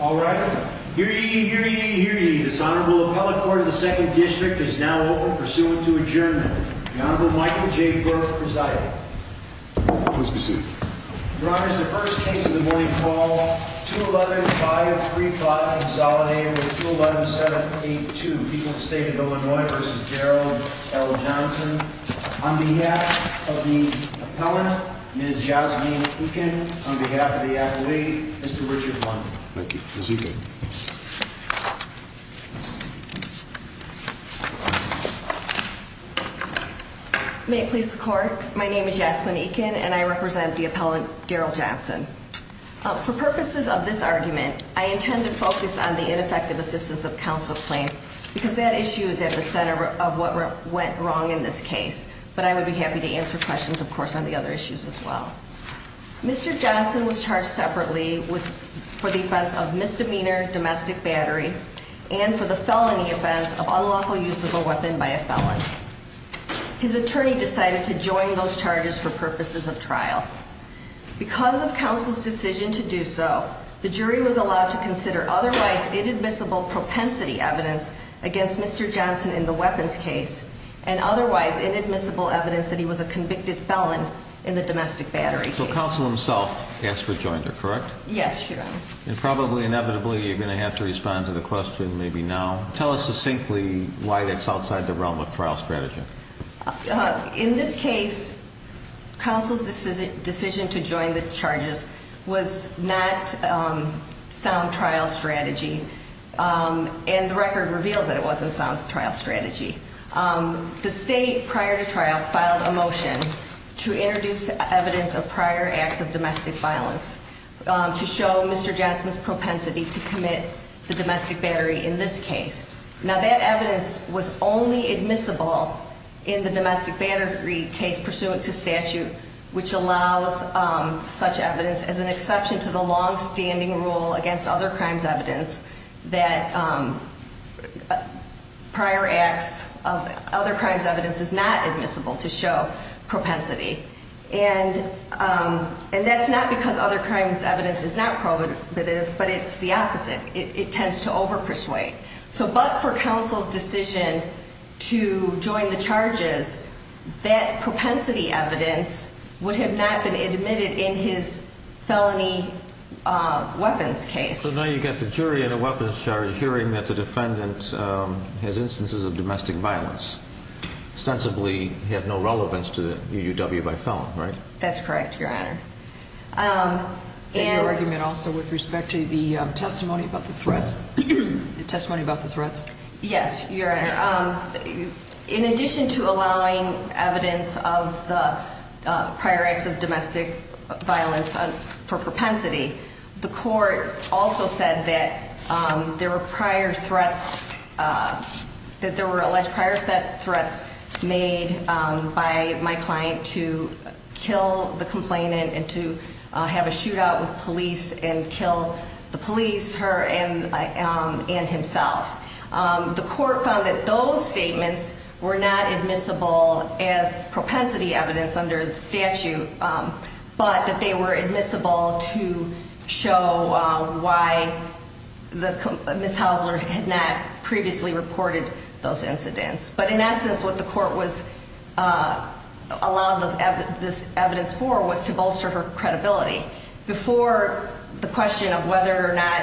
All right. Hear ye, hear ye, hear ye. This Honorable Appellate Court of the 2nd District is now open, pursuant to adjournment. The Honorable Michael J. Burke presiding. Please be seated. Your Honor, this is the first case of the morning for all. 2-11-5-3-5, consolidated with 2-11-7-8-2. People's State of Illinois v. Gerald L. Johnson. On behalf of the appellant, Ms. Jazmine Eakin. On behalf of the appellate, Mr. Richard Blum. Thank you. Ms. Eakin. May it please the Court, my name is Jazmine Eakin, and I represent the appellant, Daryl Johnson. For purposes of this argument, I intend to focus on the ineffective assistance of counsel claim, because that issue is at the center of what went wrong in this case. But I would be happy to answer questions, of course, on the other issues as well. Mr. Johnson was charged separately for the offense of misdemeanor domestic battery, and for the felony offense of unlawful use of a weapon by a felon. His attorney decided to join those charges for purposes of trial. Because of counsel's decision to do so, the jury was allowed to consider otherwise inadmissible propensity evidence against Mr. Johnson in the weapons case, and otherwise inadmissible evidence that he was a convicted felon in the domestic battery case. So counsel himself asked for joinder, correct? Yes, Your Honor. And probably, inevitably, you're going to have to respond to the question maybe now. Tell us succinctly why that's outside the realm of trial strategy. In this case, counsel's decision to join the charges was not sound trial strategy. And the record reveals that it wasn't sound trial strategy. The state, prior to trial, filed a motion to introduce evidence of prior acts of domestic violence to show Mr. Johnson's propensity to commit the domestic battery in this case. Now, that evidence was only admissible in the domestic battery case pursuant to statute, which allows such evidence as an exception to the longstanding rule against other crimes evidence that prior acts of other crimes evidence is not admissible to show propensity. And that's not because other crimes evidence is not prohibitive, but it's the opposite. It tends to overpersuade. So but for counsel's decision to join the charges, that propensity evidence would have not been admitted in his felony weapons case. So now you've got the jury in a weapons charge hearing that the defendant has instances of domestic violence, ostensibly have no relevance to the UUW by felon, right? That's correct, Your Honor. And your argument also with respect to the testimony about the threats? The testimony about the threats? Yes, Your Honor. In addition to allowing evidence of the prior acts of domestic violence for propensity, the court also said that there were alleged prior threats made by my client to kill the complainant and to have a shootout with police and kill the police, her and himself. The court found that those statements were not admissible as propensity evidence under the statute, but that they were admissible to show why Ms. Hausler had not previously reported those incidents. But in essence, what the court allowed this evidence for was to bolster her credibility. Before the question of whether or not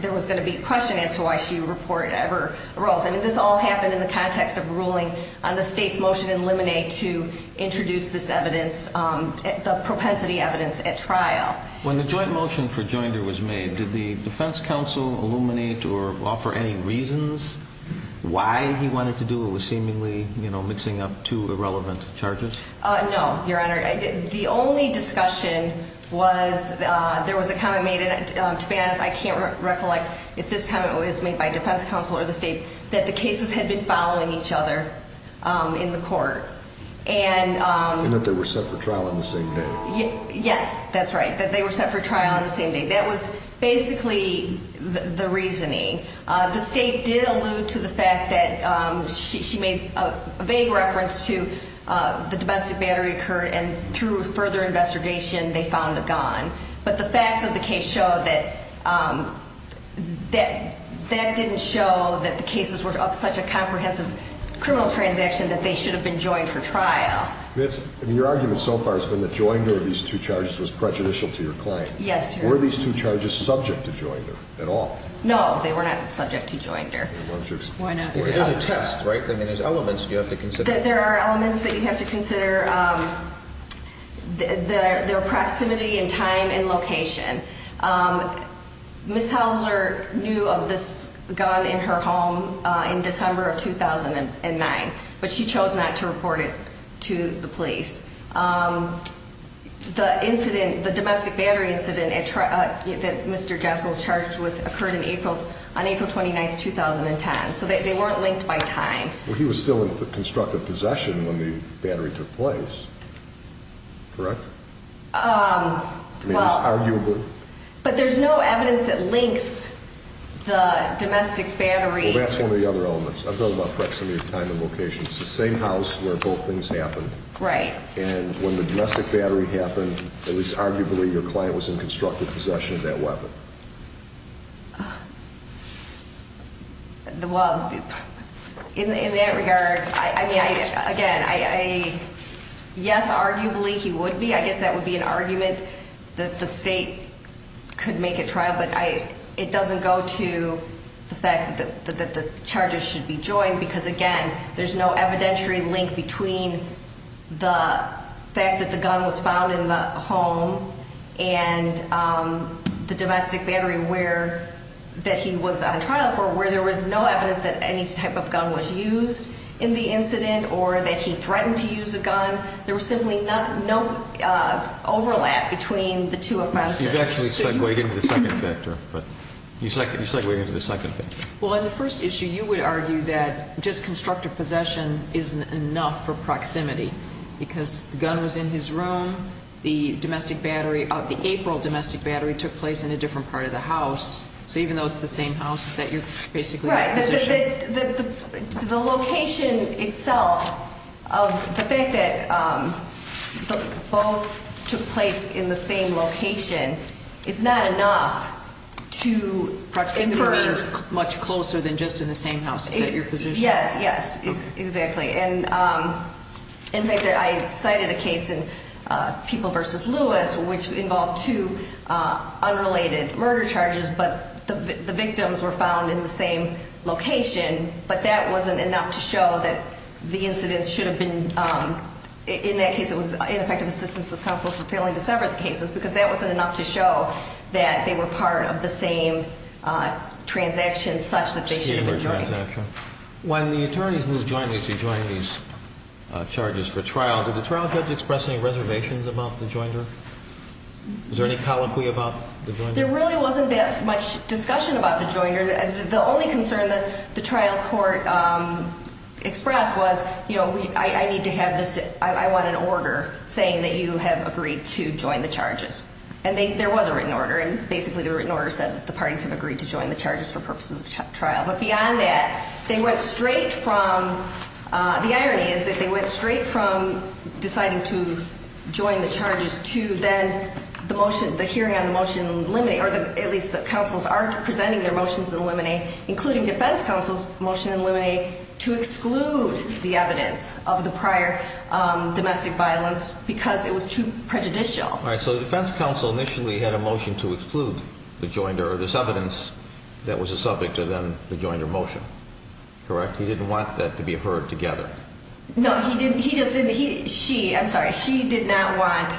there was going to be a question as to why she reported ever arose. I mean, this all happened in the context of ruling on the state's motion in Liminate to introduce this evidence, the propensity evidence at trial. When the joint motion for Joinder was made, did the defense counsel illuminate or offer any reasons why he wanted to do what was seemingly mixing up two irrelevant charges? No, Your Honor. The only discussion was there was a comment made, and to be honest, I can't recollect if this comment was made by defense counsel or the state, that the cases had been following each other in the court. And that they were set for trial on the same day. Yes, that's right, that they were set for trial on the same day. That was basically the reasoning. The state did allude to the fact that she made a vague reference to the domestic battery occurred, and through further investigation they found it gone. But the facts of the case show that that didn't show that the cases were of such a comprehensive criminal transaction that they should have been joined for trial. Your argument so far has been that Joinder of these two charges was prejudicial to your claim. Yes, Your Honor. Were these two charges subject to Joinder at all? No, they were not subject to Joinder. Why not? Because there's a test, right? I mean, there's elements you have to consider. There are elements that you have to consider. Their proximity in time and location. Ms. Hauser knew of this gun in her home in December of 2009, but she chose not to report it to the police. The incident, the domestic battery incident that Mr. Johnson was charged with, occurred on April 29, 2010. So they weren't linked by time. Well, he was still in constructive possession when the battery took place, correct? I mean, it's arguably. But there's no evidence that links the domestic battery. Well, that's one of the other elements. I'm talking about proximity of time and location. It's the same house where both things happened. Right. And when the domestic battery happened, at least arguably your client was in constructive possession of that weapon. Well, in that regard, again, yes, arguably he would be. I guess that would be an argument that the state could make at trial. But it doesn't go to the fact that the charges should be joined because, again, there's no evidentiary link between the fact that the gun was found in the home and the domestic battery that he was on trial for, where there was no evidence that any type of gun was used in the incident or that he threatened to use a gun. There was simply no overlap between the two offenses. You've actually segued into the second factor. You segued into the second factor. Well, in the first issue, you would argue that just constructive possession isn't enough for proximity because the gun was in his room, the April domestic battery took place in a different part of the house. So even though it's the same house, is that your position? Right. The location itself of the fact that both took place in the same location is not enough to infer. Proximity means much closer than just in the same house. Is that your position? Yes, yes, exactly. In fact, I cited a case in People v. Lewis, which involved two unrelated murder charges, but the victims were found in the same location, but that wasn't enough to show that the incident should have been, in that case, it was ineffective assistance of counsel for failing to sever the cases because that wasn't enough to show that they were part of the same transaction such that they should have been joined. When the attorneys moved jointly to join these charges for trial, did the trial judge express any reservations about the joinder? Was there any colloquy about the joinder? There really wasn't that much discussion about the joinder. The only concern that the trial court expressed was, you know, I need to have this, I want an order saying that you have agreed to join the charges, and there was a written order, and basically the written order said that the parties have agreed to join the charges for purposes of trial. But beyond that, they went straight from, the irony is that they went straight from deciding to join the charges to then the hearing on the motion to eliminate, or at least the counsels are presenting their motions to eliminate, including defense counsel's motion to eliminate to exclude the evidence of the prior domestic violence because it was too prejudicial. All right, so the defense counsel initially had a motion to exclude the joinder, or this evidence that was a subject to then the joinder motion, correct? He didn't want that to be heard together. No, he didn't, he just didn't, she, I'm sorry, she did not want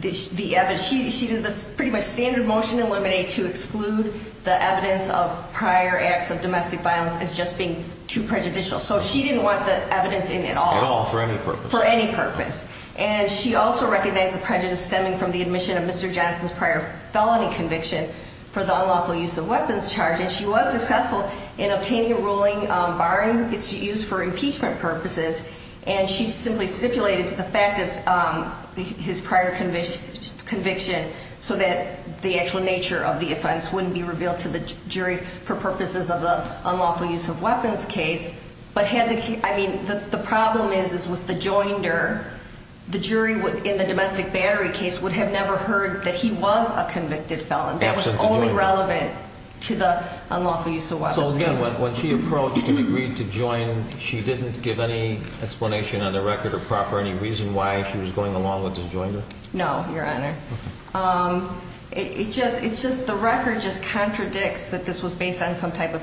the evidence, she did this pretty much standard motion to eliminate to exclude the evidence of prior acts of domestic violence as just being too prejudicial. So she didn't want the evidence in at all. At all, for any purpose. For any purpose. And she also recognized the prejudice stemming from the admission of Mr. Johnson's prior felony conviction for the unlawful use of weapons charge. And she was successful in obtaining a ruling barring its use for impeachment purposes. And she simply stipulated to the fact of his prior conviction so that the actual nature of the offense wouldn't be revealed to the jury for purposes of the unlawful use of weapons case. But had the, I mean, the problem is, is with the joinder, the jury would, in the domestic battery case, would have never heard that he was a convicted felon. Absent the joinder. That was only relevant to the unlawful use of weapons case. So again, when she approached to agree to join, she didn't give any explanation on the record or proper, any reason why she was going along with this joinder? No, Your Honor. Okay. It's just the record just contradicts that this was based on some type of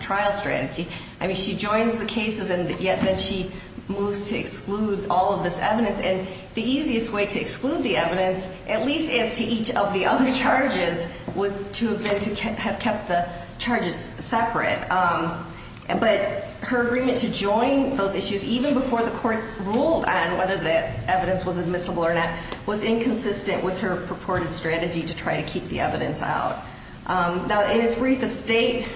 trial strategy. I mean, she joins the cases, and yet then she moves to exclude all of this evidence. And the easiest way to exclude the evidence, at least as to each of the other charges, was to have kept the charges separate. But her agreement to join those issues, even before the court ruled on whether the evidence was admissible or not, was inconsistent with her purported strategy to try to keep the evidence out. Now, in its brief, the state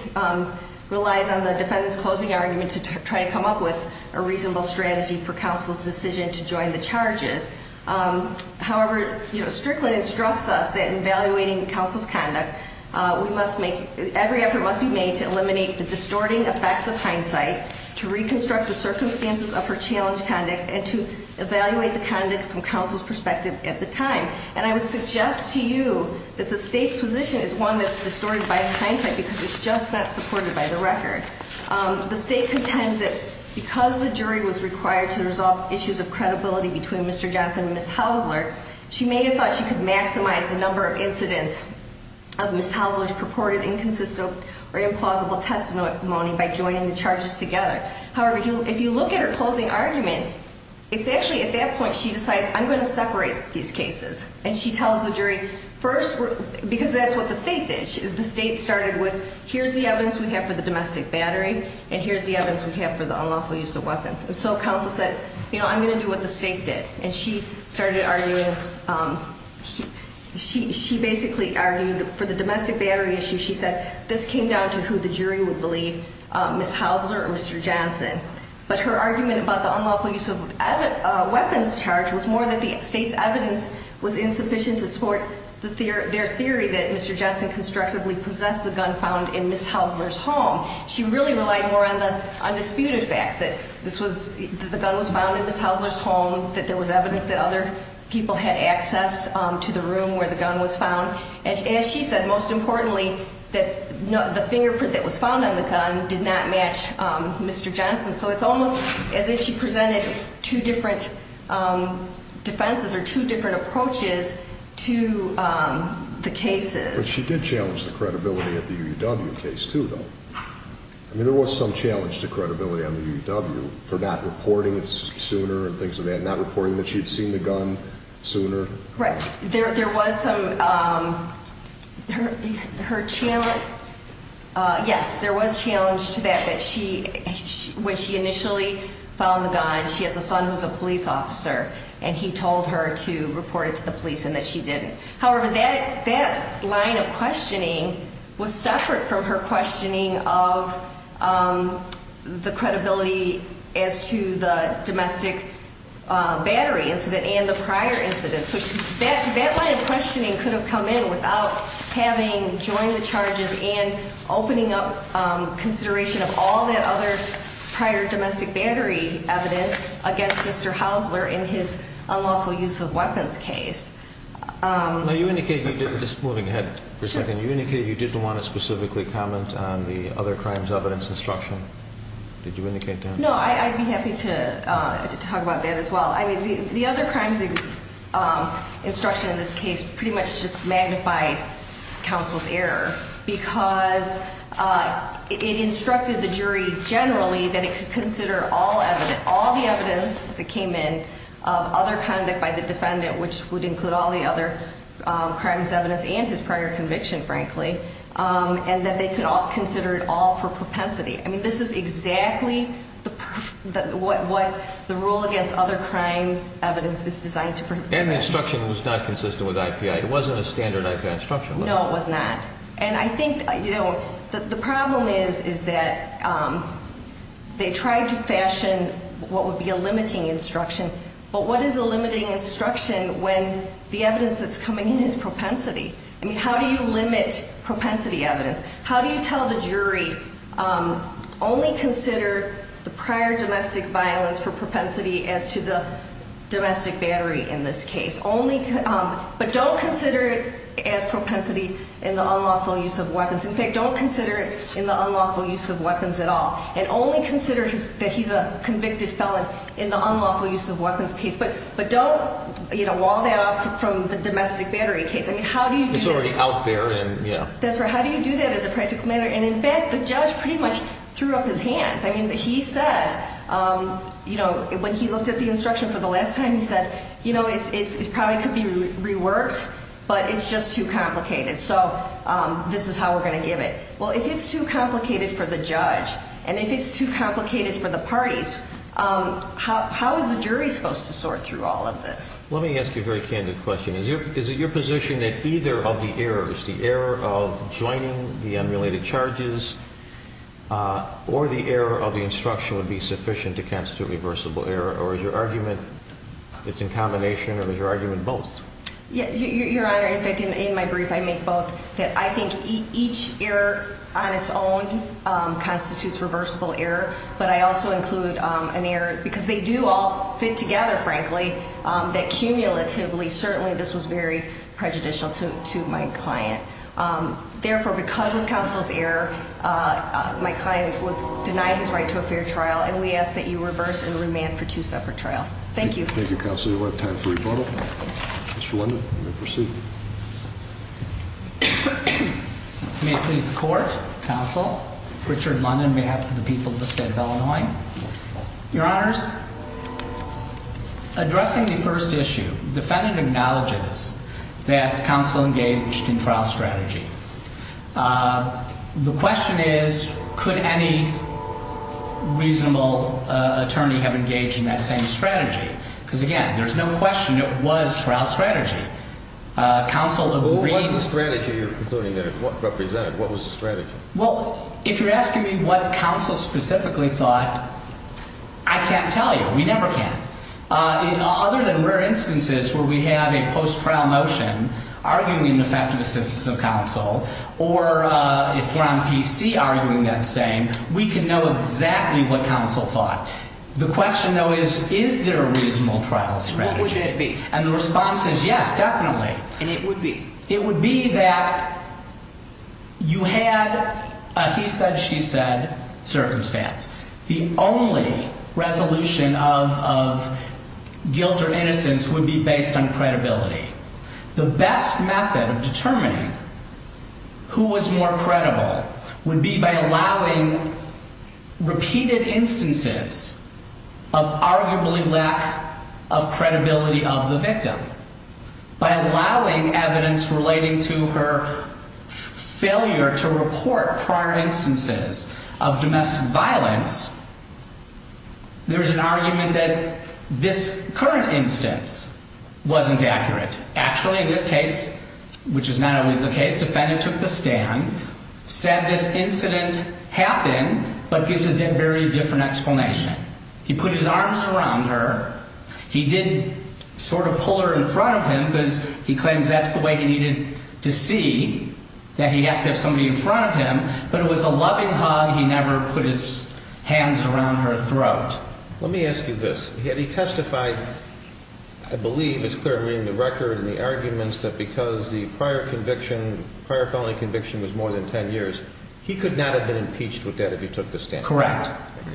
relies on the defendant's closing argument to try to come up with a reasonable strategy for counsel's decision to join the charges. However, Strickland instructs us that in evaluating counsel's conduct, we must make, every effort must be made to eliminate the distorting effects of hindsight, to reconstruct the circumstances of her challenged conduct, and to evaluate the conduct from counsel's perspective at the time. And I would suggest to you that the state's position is one that's distorted by hindsight, because it's just not supported by the record. The state contends that because the jury was required to resolve issues of credibility between Mr. Johnson and Ms. Hausler, she may have thought she could maximize the number of incidents of Ms. Hausler's purported inconsistent or implausible testimony by joining the charges together. However, if you look at her closing argument, it's actually at that point she decides, I'm going to separate these cases. And she tells the jury, first, because that's what the state did. The state started with, here's the evidence we have for the domestic battery, and here's the evidence we have for the unlawful use of weapons. And so counsel said, you know, I'm going to do what the state did. And she started arguing, she basically argued for the domestic battery issue, she said this came down to who the jury would believe, Ms. Hausler or Mr. Johnson. But her argument about the unlawful use of weapons charge was more that the state's evidence was insufficient to support their theory that Mr. Johnson constructively possessed the gun found in Ms. Hausler's home. She really relied more on the undisputed facts that the gun was found in Ms. Hausler's home, that there was evidence that other people had access to the room where the gun was found. And as she said, most importantly, that the fingerprint that was found on the gun did not match Mr. Johnson. So it's almost as if she presented two different defenses or two different approaches to the cases. But she did challenge the credibility of the UUW case, too, though. I mean, there was some challenge to credibility on the UUW for not reporting it sooner and things like that, not reporting that she had seen the gun sooner. Right. There was some, her challenge, yes, there was challenge to that, that she, when she initially found the gun, she has a son who's a police officer, and he told her to report it to the police and that she didn't. However, that line of questioning was separate from her questioning of the credibility as to the domestic battery incident and the prior incident. So that line of questioning could have come in without having joined the charges and opening up consideration of all the other prior domestic battery evidence against Mr. Hausler in his unlawful use of weapons case. Now, you indicated you didn't, just moving ahead for a second, you indicated you didn't want to specifically comment on the other crimes evidence instruction. Did you indicate that? No, I'd be happy to talk about that as well. I mean, the other crimes instruction in this case pretty much just magnified counsel's error because it instructed the jury generally that it could consider all evidence, all the evidence that came in of other conduct by the defendant, which would include all the other crimes evidence and his prior conviction, frankly, and that they could all consider it all for propensity. I mean, this is exactly what the rule against other crimes evidence is designed to be. And the instruction was not consistent with IPI. It wasn't a standard IPI instruction. No, it was not. And I think the problem is that they tried to fashion what would be a limiting instruction, but what is a limiting instruction when the evidence that's coming in is propensity? I mean, how do you limit propensity evidence? How do you tell the jury only consider the prior domestic violence for propensity as to the domestic battery in this case, but don't consider it as propensity in the unlawful use of weapons. In fact, don't consider it in the unlawful use of weapons at all and only consider that he's a convicted felon in the unlawful use of weapons case, but don't wall that off from the domestic battery case. I mean, how do you do that? It's already out there. That's right. How do you do that as a practical matter? And, in fact, the judge pretty much threw up his hands. I mean, he said when he looked at the instruction for the last time, he said, you know, it probably could be reworked, but it's just too complicated, so this is how we're going to give it. Well, if it's too complicated for the judge and if it's too complicated for the parties, how is the jury supposed to sort through all of this? Let me ask you a very candid question. Is it your position that either of the errors, the error of joining the unrelated charges or the error of the instruction would be sufficient to constitute a reversible error, or is your argument it's in combination or is your argument both? Your Honor, in fact, in my brief I make both. I think each error on its own constitutes reversible error, but I also include an error because they do all fit together, frankly, that cumulatively certainly this was very prejudicial to my client. Therefore, because of counsel's error, my client was denied his right to a fair trial, and we ask that you reverse and remand for two separate trials. Thank you. Thank you, counsel. You'll have time for rebuttal. Mr. London, you may proceed. May it please the Court, counsel, Richard London on behalf of the people of the State of Illinois. Your Honors, addressing the first issue, defendant acknowledges that counsel engaged in trial strategy. The question is, could any reasonable attorney have engaged in that same strategy? Because, again, there's no question it was trial strategy. What was the strategy you're concluding there? What represented? What was the strategy? Well, if you're asking me what counsel specifically thought, I can't tell you. We never can. In other than rare instances where we have a post-trial motion arguing an effective assistance of counsel, or if you're on PC arguing that same, we can know exactly what counsel thought. The question, though, is, is there a reasonable trial strategy? And what would it be? And the response is yes, definitely. And it would be? It would be that you had a he said, she said circumstance. The only resolution of guilt or innocence would be based on credibility. The best method of determining who was more credible would be by allowing repeated instances of arguably lack of credibility of the victim. By allowing evidence relating to her failure to report prior instances of domestic violence, there's an argument that this current instance wasn't accurate. Actually, in this case, which is not always the case, defendant took the stand, said this incident happened, but gives a very different explanation. He put his arms around her. He did sort of pull her in front of him because he claims that's the way he needed to see, that he has to have somebody in front of him, but it was a loving hug. He never put his hands around her throat. Let me ask you this. Had he testified, I believe it's clear to me in the record and the arguments, that because the prior conviction, prior felony conviction, was more than 10 years, he could not have been impeached with that if he took the stand? Correct.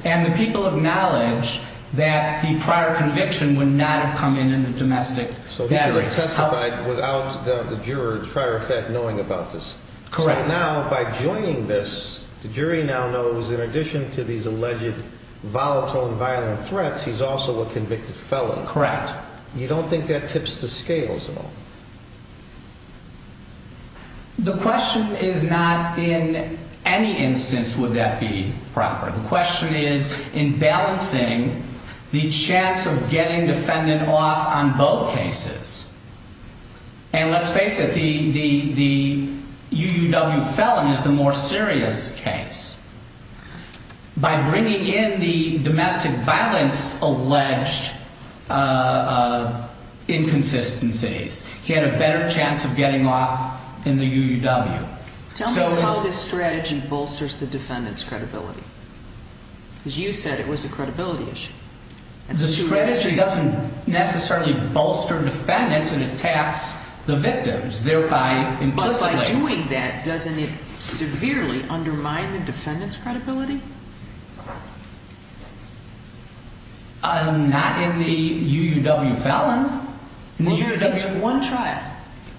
And the people acknowledge that the prior conviction would not have come in in the domestic battery. So he could have testified without the juror, in prior effect, knowing about this. Correct. Now, by joining this, the jury now knows in addition to these alleged volatile and violent threats, he's also a convicted felon. Correct. You don't think that tips the scales at all? The question is not in any instance would that be proper. The question is in balancing the chance of getting defendant off on both cases. And let's face it, the UUW felon is the more serious case. By bringing in the domestic violence alleged inconsistencies, he had a better chance of getting off in the UUW. Tell me how this strategy bolsters the defendant's credibility. Because you said it was a credibility issue. The strategy doesn't necessarily bolster defendants and attacks the victims, thereby implicitly. But by doing that, doesn't it severely undermine the defendant's credibility? Not in the UUW felon. It's one trial.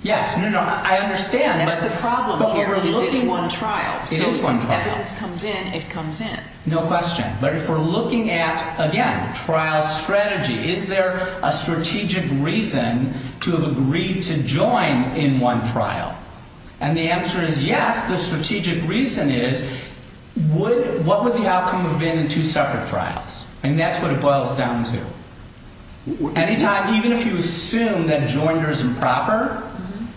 Yes, I understand. That's the problem here is it's one trial. It is one trial. So when evidence comes in, it comes in. No question. But if we're looking at, again, trial strategy, is there a strategic reason to have agreed to join in one trial? And the answer is yes. The strategic reason is what would the outcome have been in two separate trials? And that's what it boils down to. Any time, even if you assume that joinder is improper,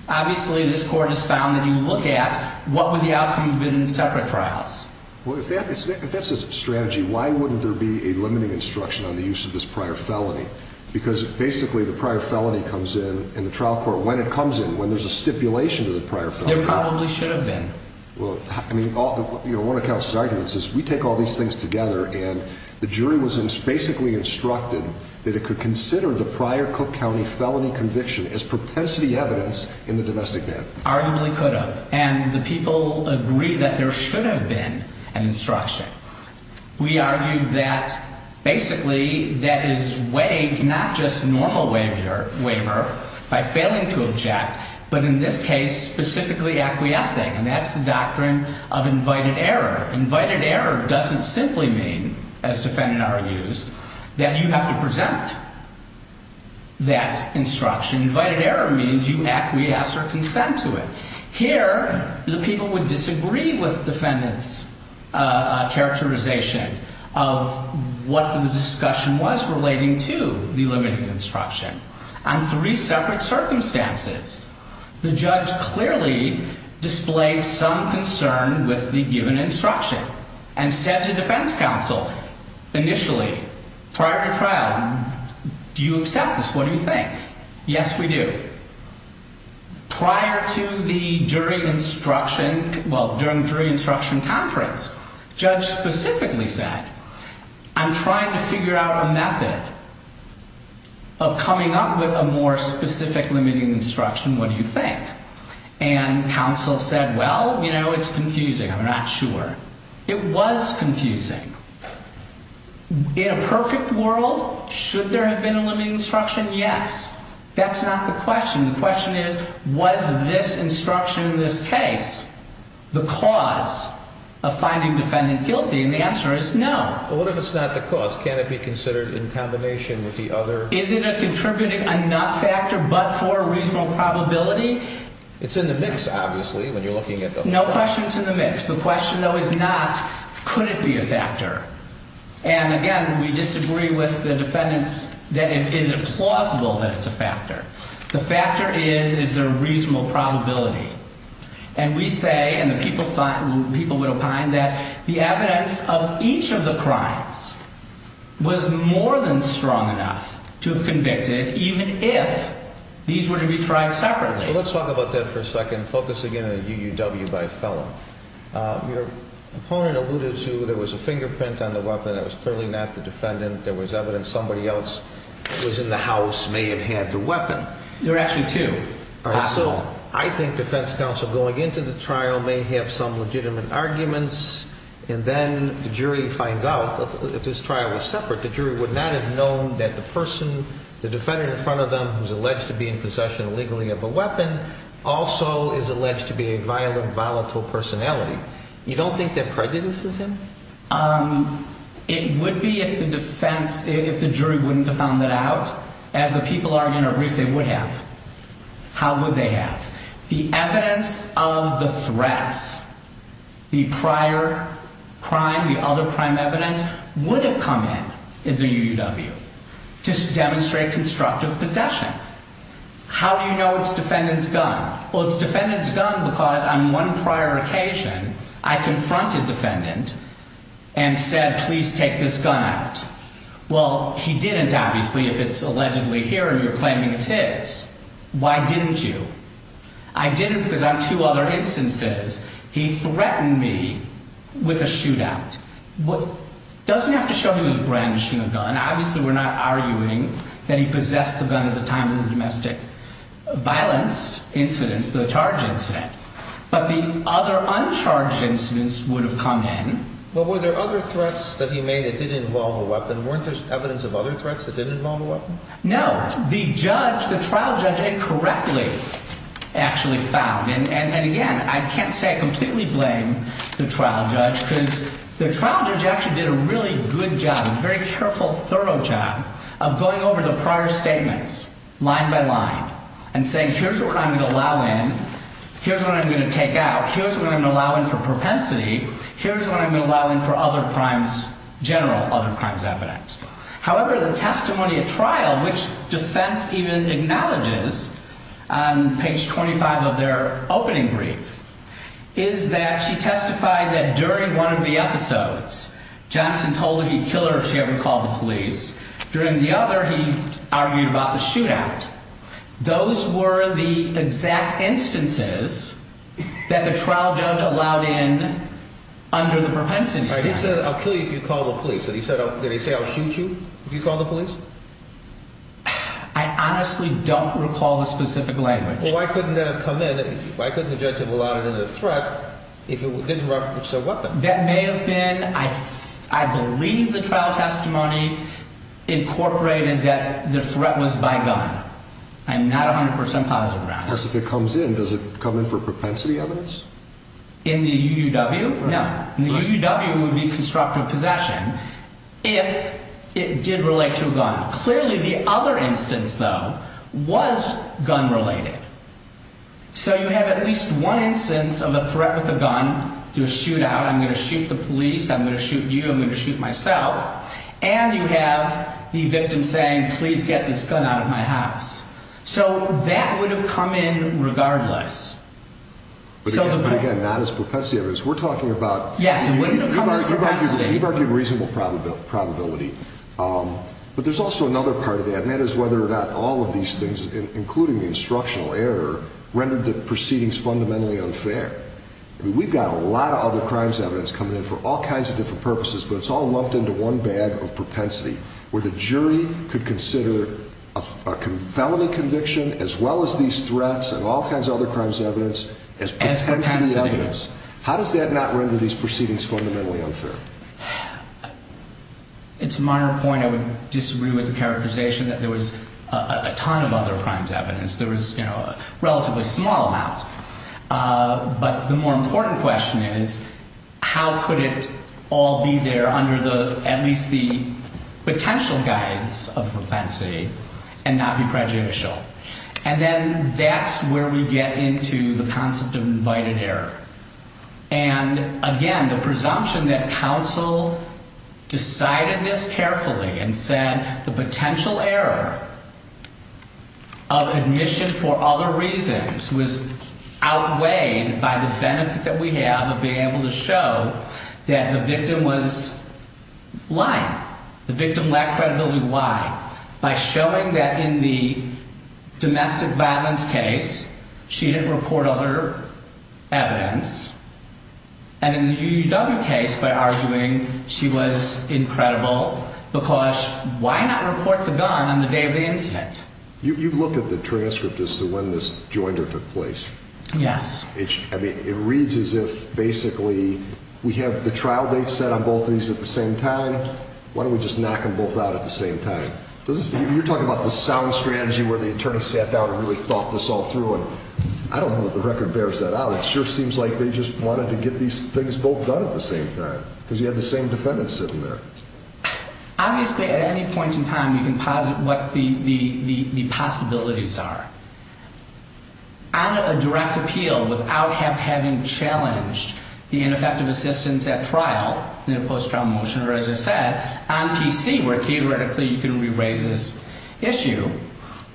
obviously this court has found that you look at what would the outcome have been in separate trials. Well, if that's the strategy, why wouldn't there be a limiting instruction on the use of this prior felony? Because basically the prior felony comes in in the trial court when it comes in, when there's a stipulation to the prior felony. There probably should have been. Well, I mean, one of the counsel's arguments is we take all these things together and the jury was basically instructed that it could consider the prior Cook County felony conviction as propensity evidence in the domestic death. Arguably could have. And the people agree that there should have been an instruction. We argue that basically that is waived, not just normal waiver, by failing to object, but in this case, specifically acquiescing. And that's the doctrine of invited error. Invited error doesn't simply mean, as defendant argues, that you have to present that instruction. Invited error means you acquiesce or consent to it. Here, the people would disagree with defendant's characterization of what the discussion was relating to the limiting instruction on three separate circumstances. The judge clearly displayed some concern with the given instruction and said to defense counsel initially, prior to trial, do you accept this? What do you think? Yes, we do. Prior to the jury instruction, well, during jury instruction conference, judge specifically said, I'm trying to figure out a method of coming up with a more specific limiting instruction. What do you think? And counsel said, well, you know, it's confusing. I'm not sure. It was confusing. In a perfect world, should there have been a limiting instruction? Yes. That's not the question. The question is, was this instruction in this case the cause of finding defendant guilty? And the answer is no. Well, what if it's not the cause? Can it be considered in combination with the other? Is it a contributing enough factor but for a reasonable probability? It's in the mix, obviously, when you're looking at the whole thing. No question it's in the mix. The question, though, is not, could it be a factor? And, again, we disagree with the defendants that it is plausible that it's a factor. The factor is, is there a reasonable probability? And we say, and the people would opine, that the evidence of each of the crimes was more than strong enough to have convicted, even if these were to be tried separately. Well, let's talk about that for a second, focusing in on the UUW by Fellow. Your opponent alluded to there was a fingerprint on the weapon that was clearly not the defendant. There was evidence somebody else who was in the house may have had the weapon. There are actually two possible. All right. So I think defense counsel going into the trial may have some legitimate arguments, and then the jury finds out, if this trial was separate, the jury would not have known that the person, the defendant in front of them who's alleged to be in possession illegally of a weapon, also is alleged to be a violent, volatile personality. You don't think that prejudices him? It would be if the defense, if the jury wouldn't have found that out. As the people argue in a brief, they would have. How would they have? The evidence of the threats, the prior crime, the other crime evidence, would have come in in the UUW to demonstrate constructive possession. How do you know it's defendant's gun? Well, it's defendant's gun because on one prior occasion, I confronted defendant and said, please take this gun out. Well, he didn't, obviously, if it's allegedly here and you're claiming it is. Why didn't you? I didn't because on two other instances, he threatened me with a shootout. And obviously, we're not arguing that he possessed the gun at the time of the domestic violence incident, the charge incident. But the other uncharged incidents would have come in. Well, were there other threats that he made that did involve a weapon? Weren't there evidence of other threats that didn't involve a weapon? No. The judge, the trial judge incorrectly actually found. And again, I can't say I completely blame the trial judge because the trial judge actually did a really good job a very careful, thorough job of going over the prior statements line by line and saying, here's what I'm going to allow in. Here's what I'm going to take out. Here's what I'm going to allow in for propensity. Here's what I'm going to allow in for other crimes, general other crimes evidence. However, the testimony at trial, which defense even acknowledges on page 25 of their opening brief, is that she testified that during one of the episodes, Johnson told her he'd kill her if she ever called the police. During the other, he argued about the shootout. Those were the exact instances that the trial judge allowed in under the propensity statute. He said, I'll kill you if you call the police. Did he say, I'll shoot you if you call the police? I honestly don't recall the specific language. Well, why couldn't that have come in? Why couldn't the judge have allowed it in the threat if it didn't reference a weapon? That may have been, I believe the trial testimony incorporated that the threat was by gun. I'm not 100% positive about that. Because if it comes in, does it come in for propensity evidence? In the UUW? No. In the UUW, it would be constructive possession if it did relate to a gun. Clearly, the other instance, though, was gun-related. So you have at least one instance of a threat with a gun to a shootout. I'm going to shoot the police. I'm going to shoot you. I'm going to shoot myself. And you have the victim saying, please get this gun out of my house. So that would have come in regardless. But again, not as propensity evidence. We're talking about reasonable probability. But there's also another part of that, and that is whether or not all of these things, including the instructional error, rendered the proceedings fundamentally unfair. We've got a lot of other crimes evidence coming in for all kinds of different purposes, but it's all lumped into one bag of propensity, where the jury could consider a felony conviction, as well as these threats and all kinds of other crimes evidence, as propensity evidence. How does that not render these proceedings fundamentally unfair? To my point, I would disagree with the characterization that there was a ton of other crimes evidence. There was a relatively small amount. But the more important question is, how could it all be there under at least the potential guides of propensity and not be prejudicial? And then that's where we get into the concept of invited error. And again, the presumption that counsel decided this carefully and said the potential error of admission for other reasons was outweighed by the benefit that we have of being able to show that the victim was lying. The victim lacked credibility. Why? By showing that in the domestic violence case, she didn't report other evidence. And in the UUW case, by arguing she was incredible, because why not report the gun on the day of the incident? You've looked at the transcript as to when this joinder took place. Yes. I mean, it reads as if basically we have the trial date set on both of these at the same time. Why don't we just knock them both out at the same time? You're talking about the sound strategy where the attorney sat down and really thought this all through, and I don't know that the record bears that out. It sure seems like they just wanted to get these things both done at the same time, because you had the same defendant sitting there. Obviously, at any point in time, you can posit what the possibilities are. On a direct appeal, without having challenged the ineffective assistance at trial in a post-trial motion, or as I said, on PC, where theoretically you can re-raise this issue,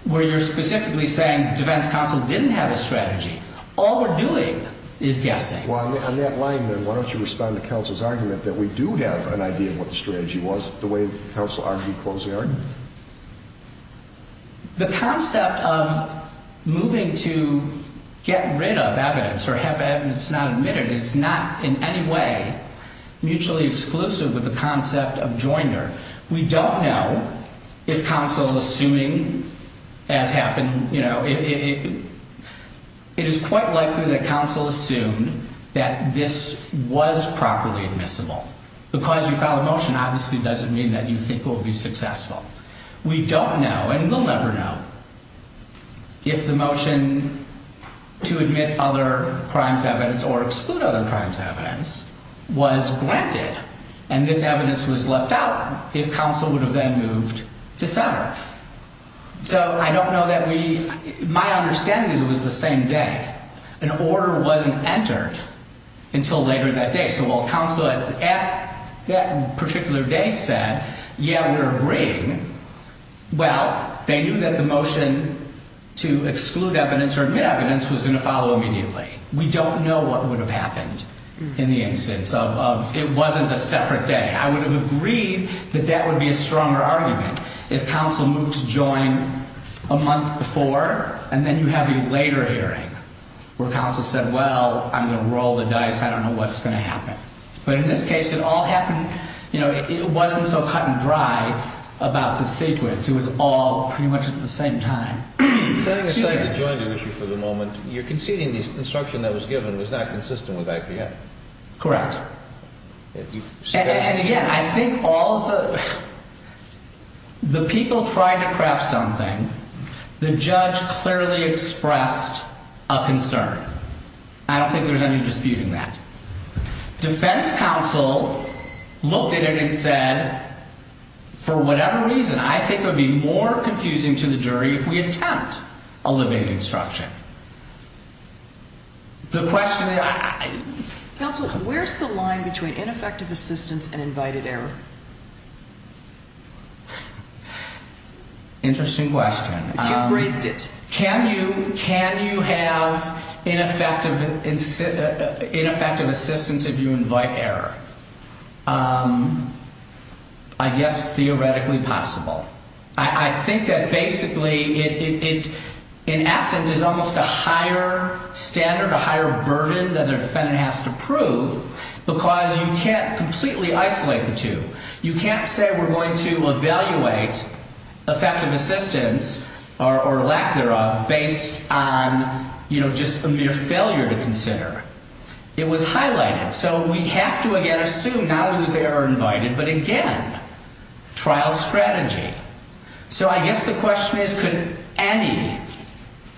where you're specifically saying defense counsel didn't have a strategy, all we're doing is guessing. Well, on that line, then, why don't you respond to counsel's argument that we do have an idea of what the strategy was, the way counsel argued the closing argument? The concept of moving to get rid of evidence, or have evidence not admitted, is not in any way mutually exclusive with the concept of joinder. We don't know if counsel, assuming as happened, you know, it is quite likely that counsel assumed that this was properly admissible. Because you filed a motion, obviously it doesn't mean that you think it will be successful. We don't know, and we'll never know, if the motion to admit other crimes evidence, or exclude other crimes evidence, was granted, and this evidence was left out, if counsel would have then moved to sever. So, I don't know that we, my understanding is it was the same day. An order wasn't entered until later that day. So, while counsel at that particular day said, yeah, we're agreeing, well, they knew that the motion to exclude evidence or admit evidence was going to follow immediately. We don't know what would have happened in the instance of, it wasn't a separate day. I would have agreed that that would be a stronger argument. If counsel moved to join a month before, and then you have a later hearing, where counsel said, well, I'm going to roll the dice. I don't know what's going to happen. But in this case, it all happened, you know, it wasn't so cut and dry about the sequence. It was all pretty much at the same time. I'm sorry to join the issue for the moment. You're conceding the instruction that was given was not consistent with IPM? Correct. And again, I think all of the, the people tried to craft something. The judge clearly expressed a concern. I don't think there's any dispute in that. Defense counsel looked at it and said, for whatever reason, I think it would be more confusing to the jury if we attempt a limiting instruction. The question, I... Counsel, where's the line between ineffective assistance and invited error? Interesting question. You raised it. Can you have ineffective assistance if you invite error? I guess theoretically possible. I think that basically it, in essence, is almost a higher standard, a higher burden that a defendant has to prove because you can't completely isolate the two. You can't say we're going to evaluate effective assistance or lack thereof based on, you know, just a mere failure to consider. It was highlighted. So we have to, again, assume not only was the error invited, but again, trial strategy. So I guess the question is, could any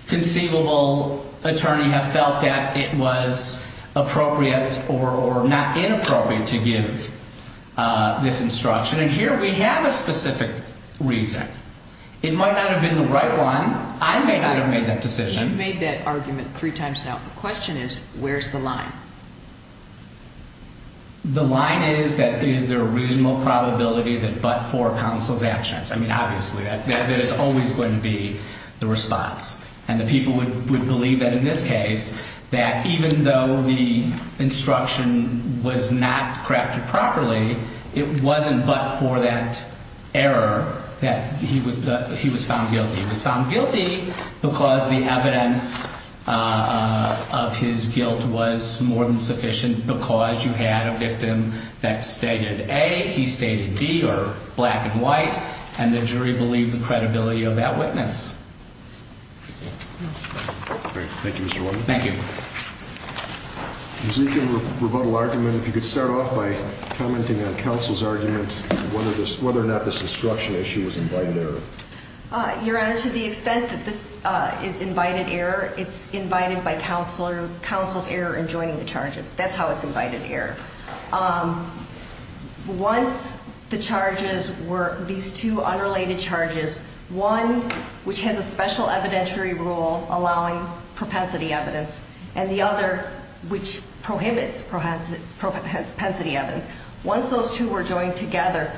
conceivable attorney have felt that it was appropriate or not inappropriate to give this instruction? And here we have a specific reason. It might not have been the right one. I may not have made that decision. You've made that argument three times now. The question is, where's the line? The line is that is there a reasonable probability that but for counsel's actions. I mean, obviously, that is always going to be the response. And the people would believe that in this case, that even though the instruction was not crafted properly, it wasn't but for that error that he was found guilty. He was found guilty because the evidence of his guilt was more than sufficient because you had a victim that stated A, he stated B, or black and white, and the jury believed the credibility of that witness. Thank you, Mr. Warner. Thank you. Ms. Eakin, rebuttal argument. If you could start off by commenting on counsel's argument, whether or not this instruction issue was invited error. Your Honor, to the extent that this is invited error, it's invited by counsel's error in joining the charges. That's how it's invited error. Once the charges were these two unrelated charges, one which has a special evidentiary rule allowing propensity evidence, and the other which prohibits propensity evidence. Once those two were joined together,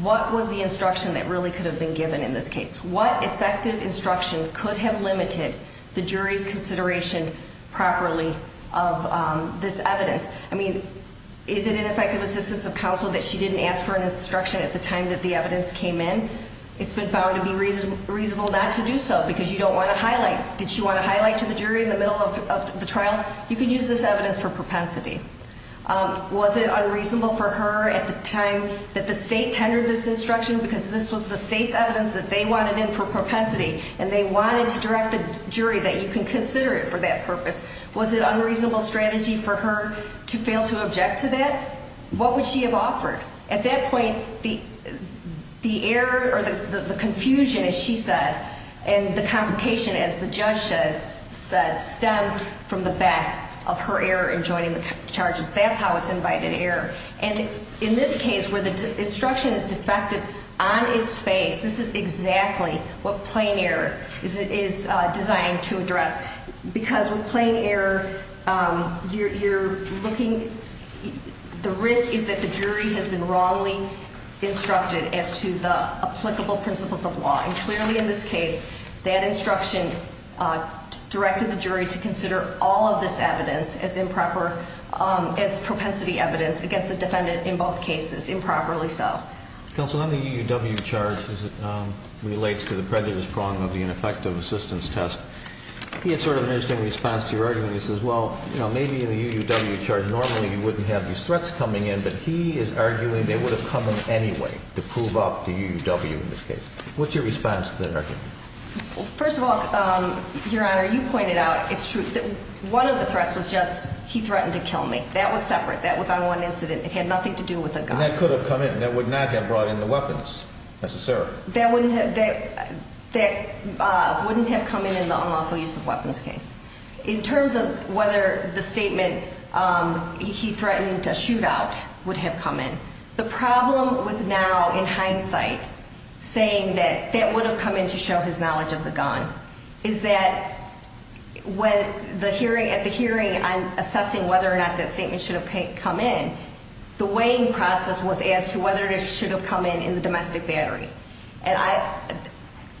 what was the instruction that really could have been given in this case? What effective instruction could have limited the jury's consideration properly of this evidence? I mean, is it an effective assistance of counsel that she didn't ask for an instruction at the time that the evidence came in? It's been found to be reasonable not to do so because you don't want to highlight. Did she want to highlight to the jury in the middle of the trial? You can use this evidence for propensity. Was it unreasonable for her at the time that the state tendered this instruction because this was the state's evidence that they wanted in for propensity and they wanted to direct the jury that you can consider it for that purpose? Was it unreasonable strategy for her to fail to object to that? What would she have offered? At that point, the error or the confusion, as she said, and the complication, as the judge said, stemmed from the fact of her error in joining the charges. That's how it's invited error. And in this case, where the instruction is defective on its face, this is exactly what plain error is designed to address because with plain error, you're looking, the risk is that the jury has been wrongly instructed as to the applicable principles of law. And clearly in this case, that instruction directed the jury to consider all of this evidence as propensity evidence against the defendant in both cases, improperly so. Counsel, on the UUW charge as it relates to the prejudice prong of the ineffective assistance test, he had sort of an interesting response to your argument. He says, well, maybe in the UUW charge normally you wouldn't have these threats coming in, but he is arguing they would have come in anyway to prove up the UUW in this case. What's your response to that argument? First of all, Your Honor, you pointed out, it's true, that one of the threats was just he threatened to kill me. That was separate. That was on one incident. It had nothing to do with a gun. And that could have come in. That would not have brought in the weapons necessarily. That wouldn't have come in in the unlawful use of weapons case. In terms of whether the statement he threatened a shootout would have come in, the problem with now in hindsight saying that that would have come in to show his knowledge of the gun is that at the hearing on assessing whether or not that statement should have come in, the weighing process was as to whether it should have come in in the domestic battery. And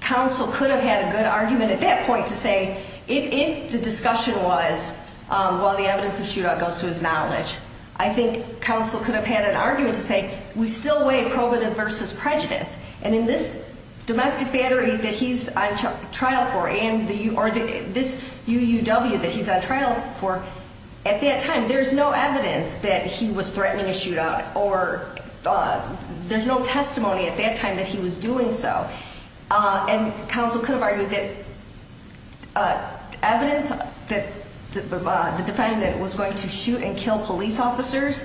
counsel could have had a good argument at that point to say, if the discussion was, well, the evidence of the shootout goes to his knowledge, I think counsel could have had an argument to say, we still weigh probative versus prejudice. And in this domestic battery that he's on trial for or this UUW that he's on trial for, at that time there's no evidence that he was threatening a shootout or there's no testimony at that time that he was doing so. And counsel could have argued that evidence that the defendant was going to shoot and kill police officers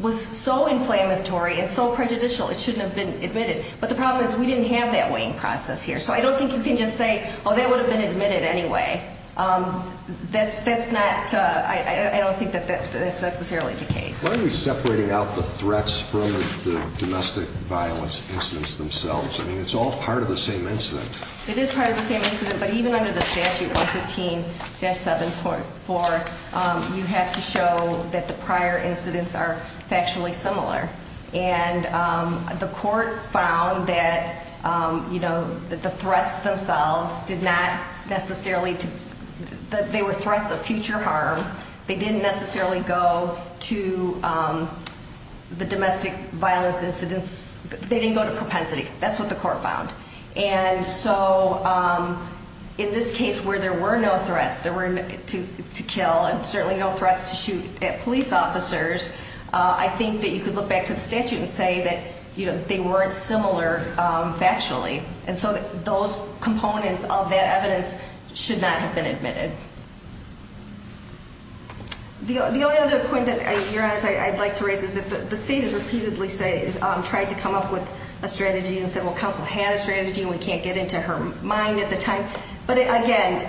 was so inflammatory and so prejudicial it shouldn't have been admitted. But the problem is we didn't have that weighing process here. So I don't think you can just say, oh, that would have been admitted anyway. That's not – I don't think that that's necessarily the case. Why are we separating out the threats from the domestic violence incidents themselves? I mean, it's all part of the same incident. It is part of the same incident, but even under the statute 115-7.4, you have to show that the prior incidents are factually similar. And the court found that the threats themselves did not necessarily – they were threats of future harm. They didn't necessarily go to the domestic violence incidents. They didn't go to propensity. That's what the court found. And so in this case where there were no threats to kill and certainly no threats to shoot at police officers, I think that you could look back to the statute and say that they weren't similar factually. And so those components of that evidence should not have been admitted. The only other point that, Your Honors, I'd like to raise is that the state has repeatedly tried to come up with a strategy and said, well, counsel had a strategy and we can't get into her mind at the time. But, again,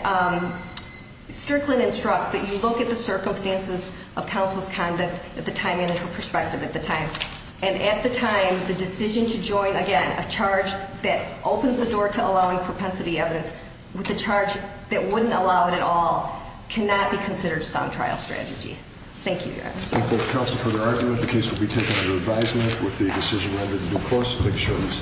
Strickland instructs that you look at the circumstances of counsel's conduct at the time and at her perspective at the time. And at the time, the decision to join, again, a charge that opens the door to allowing propensity evidence with a charge that wouldn't allow it at all cannot be considered a sound trial strategy. Thank you, Your Honors. Thank you, counsel, for the argument. The case will be taken under advisement with the decision rather than due course. Thank you, Your Honors.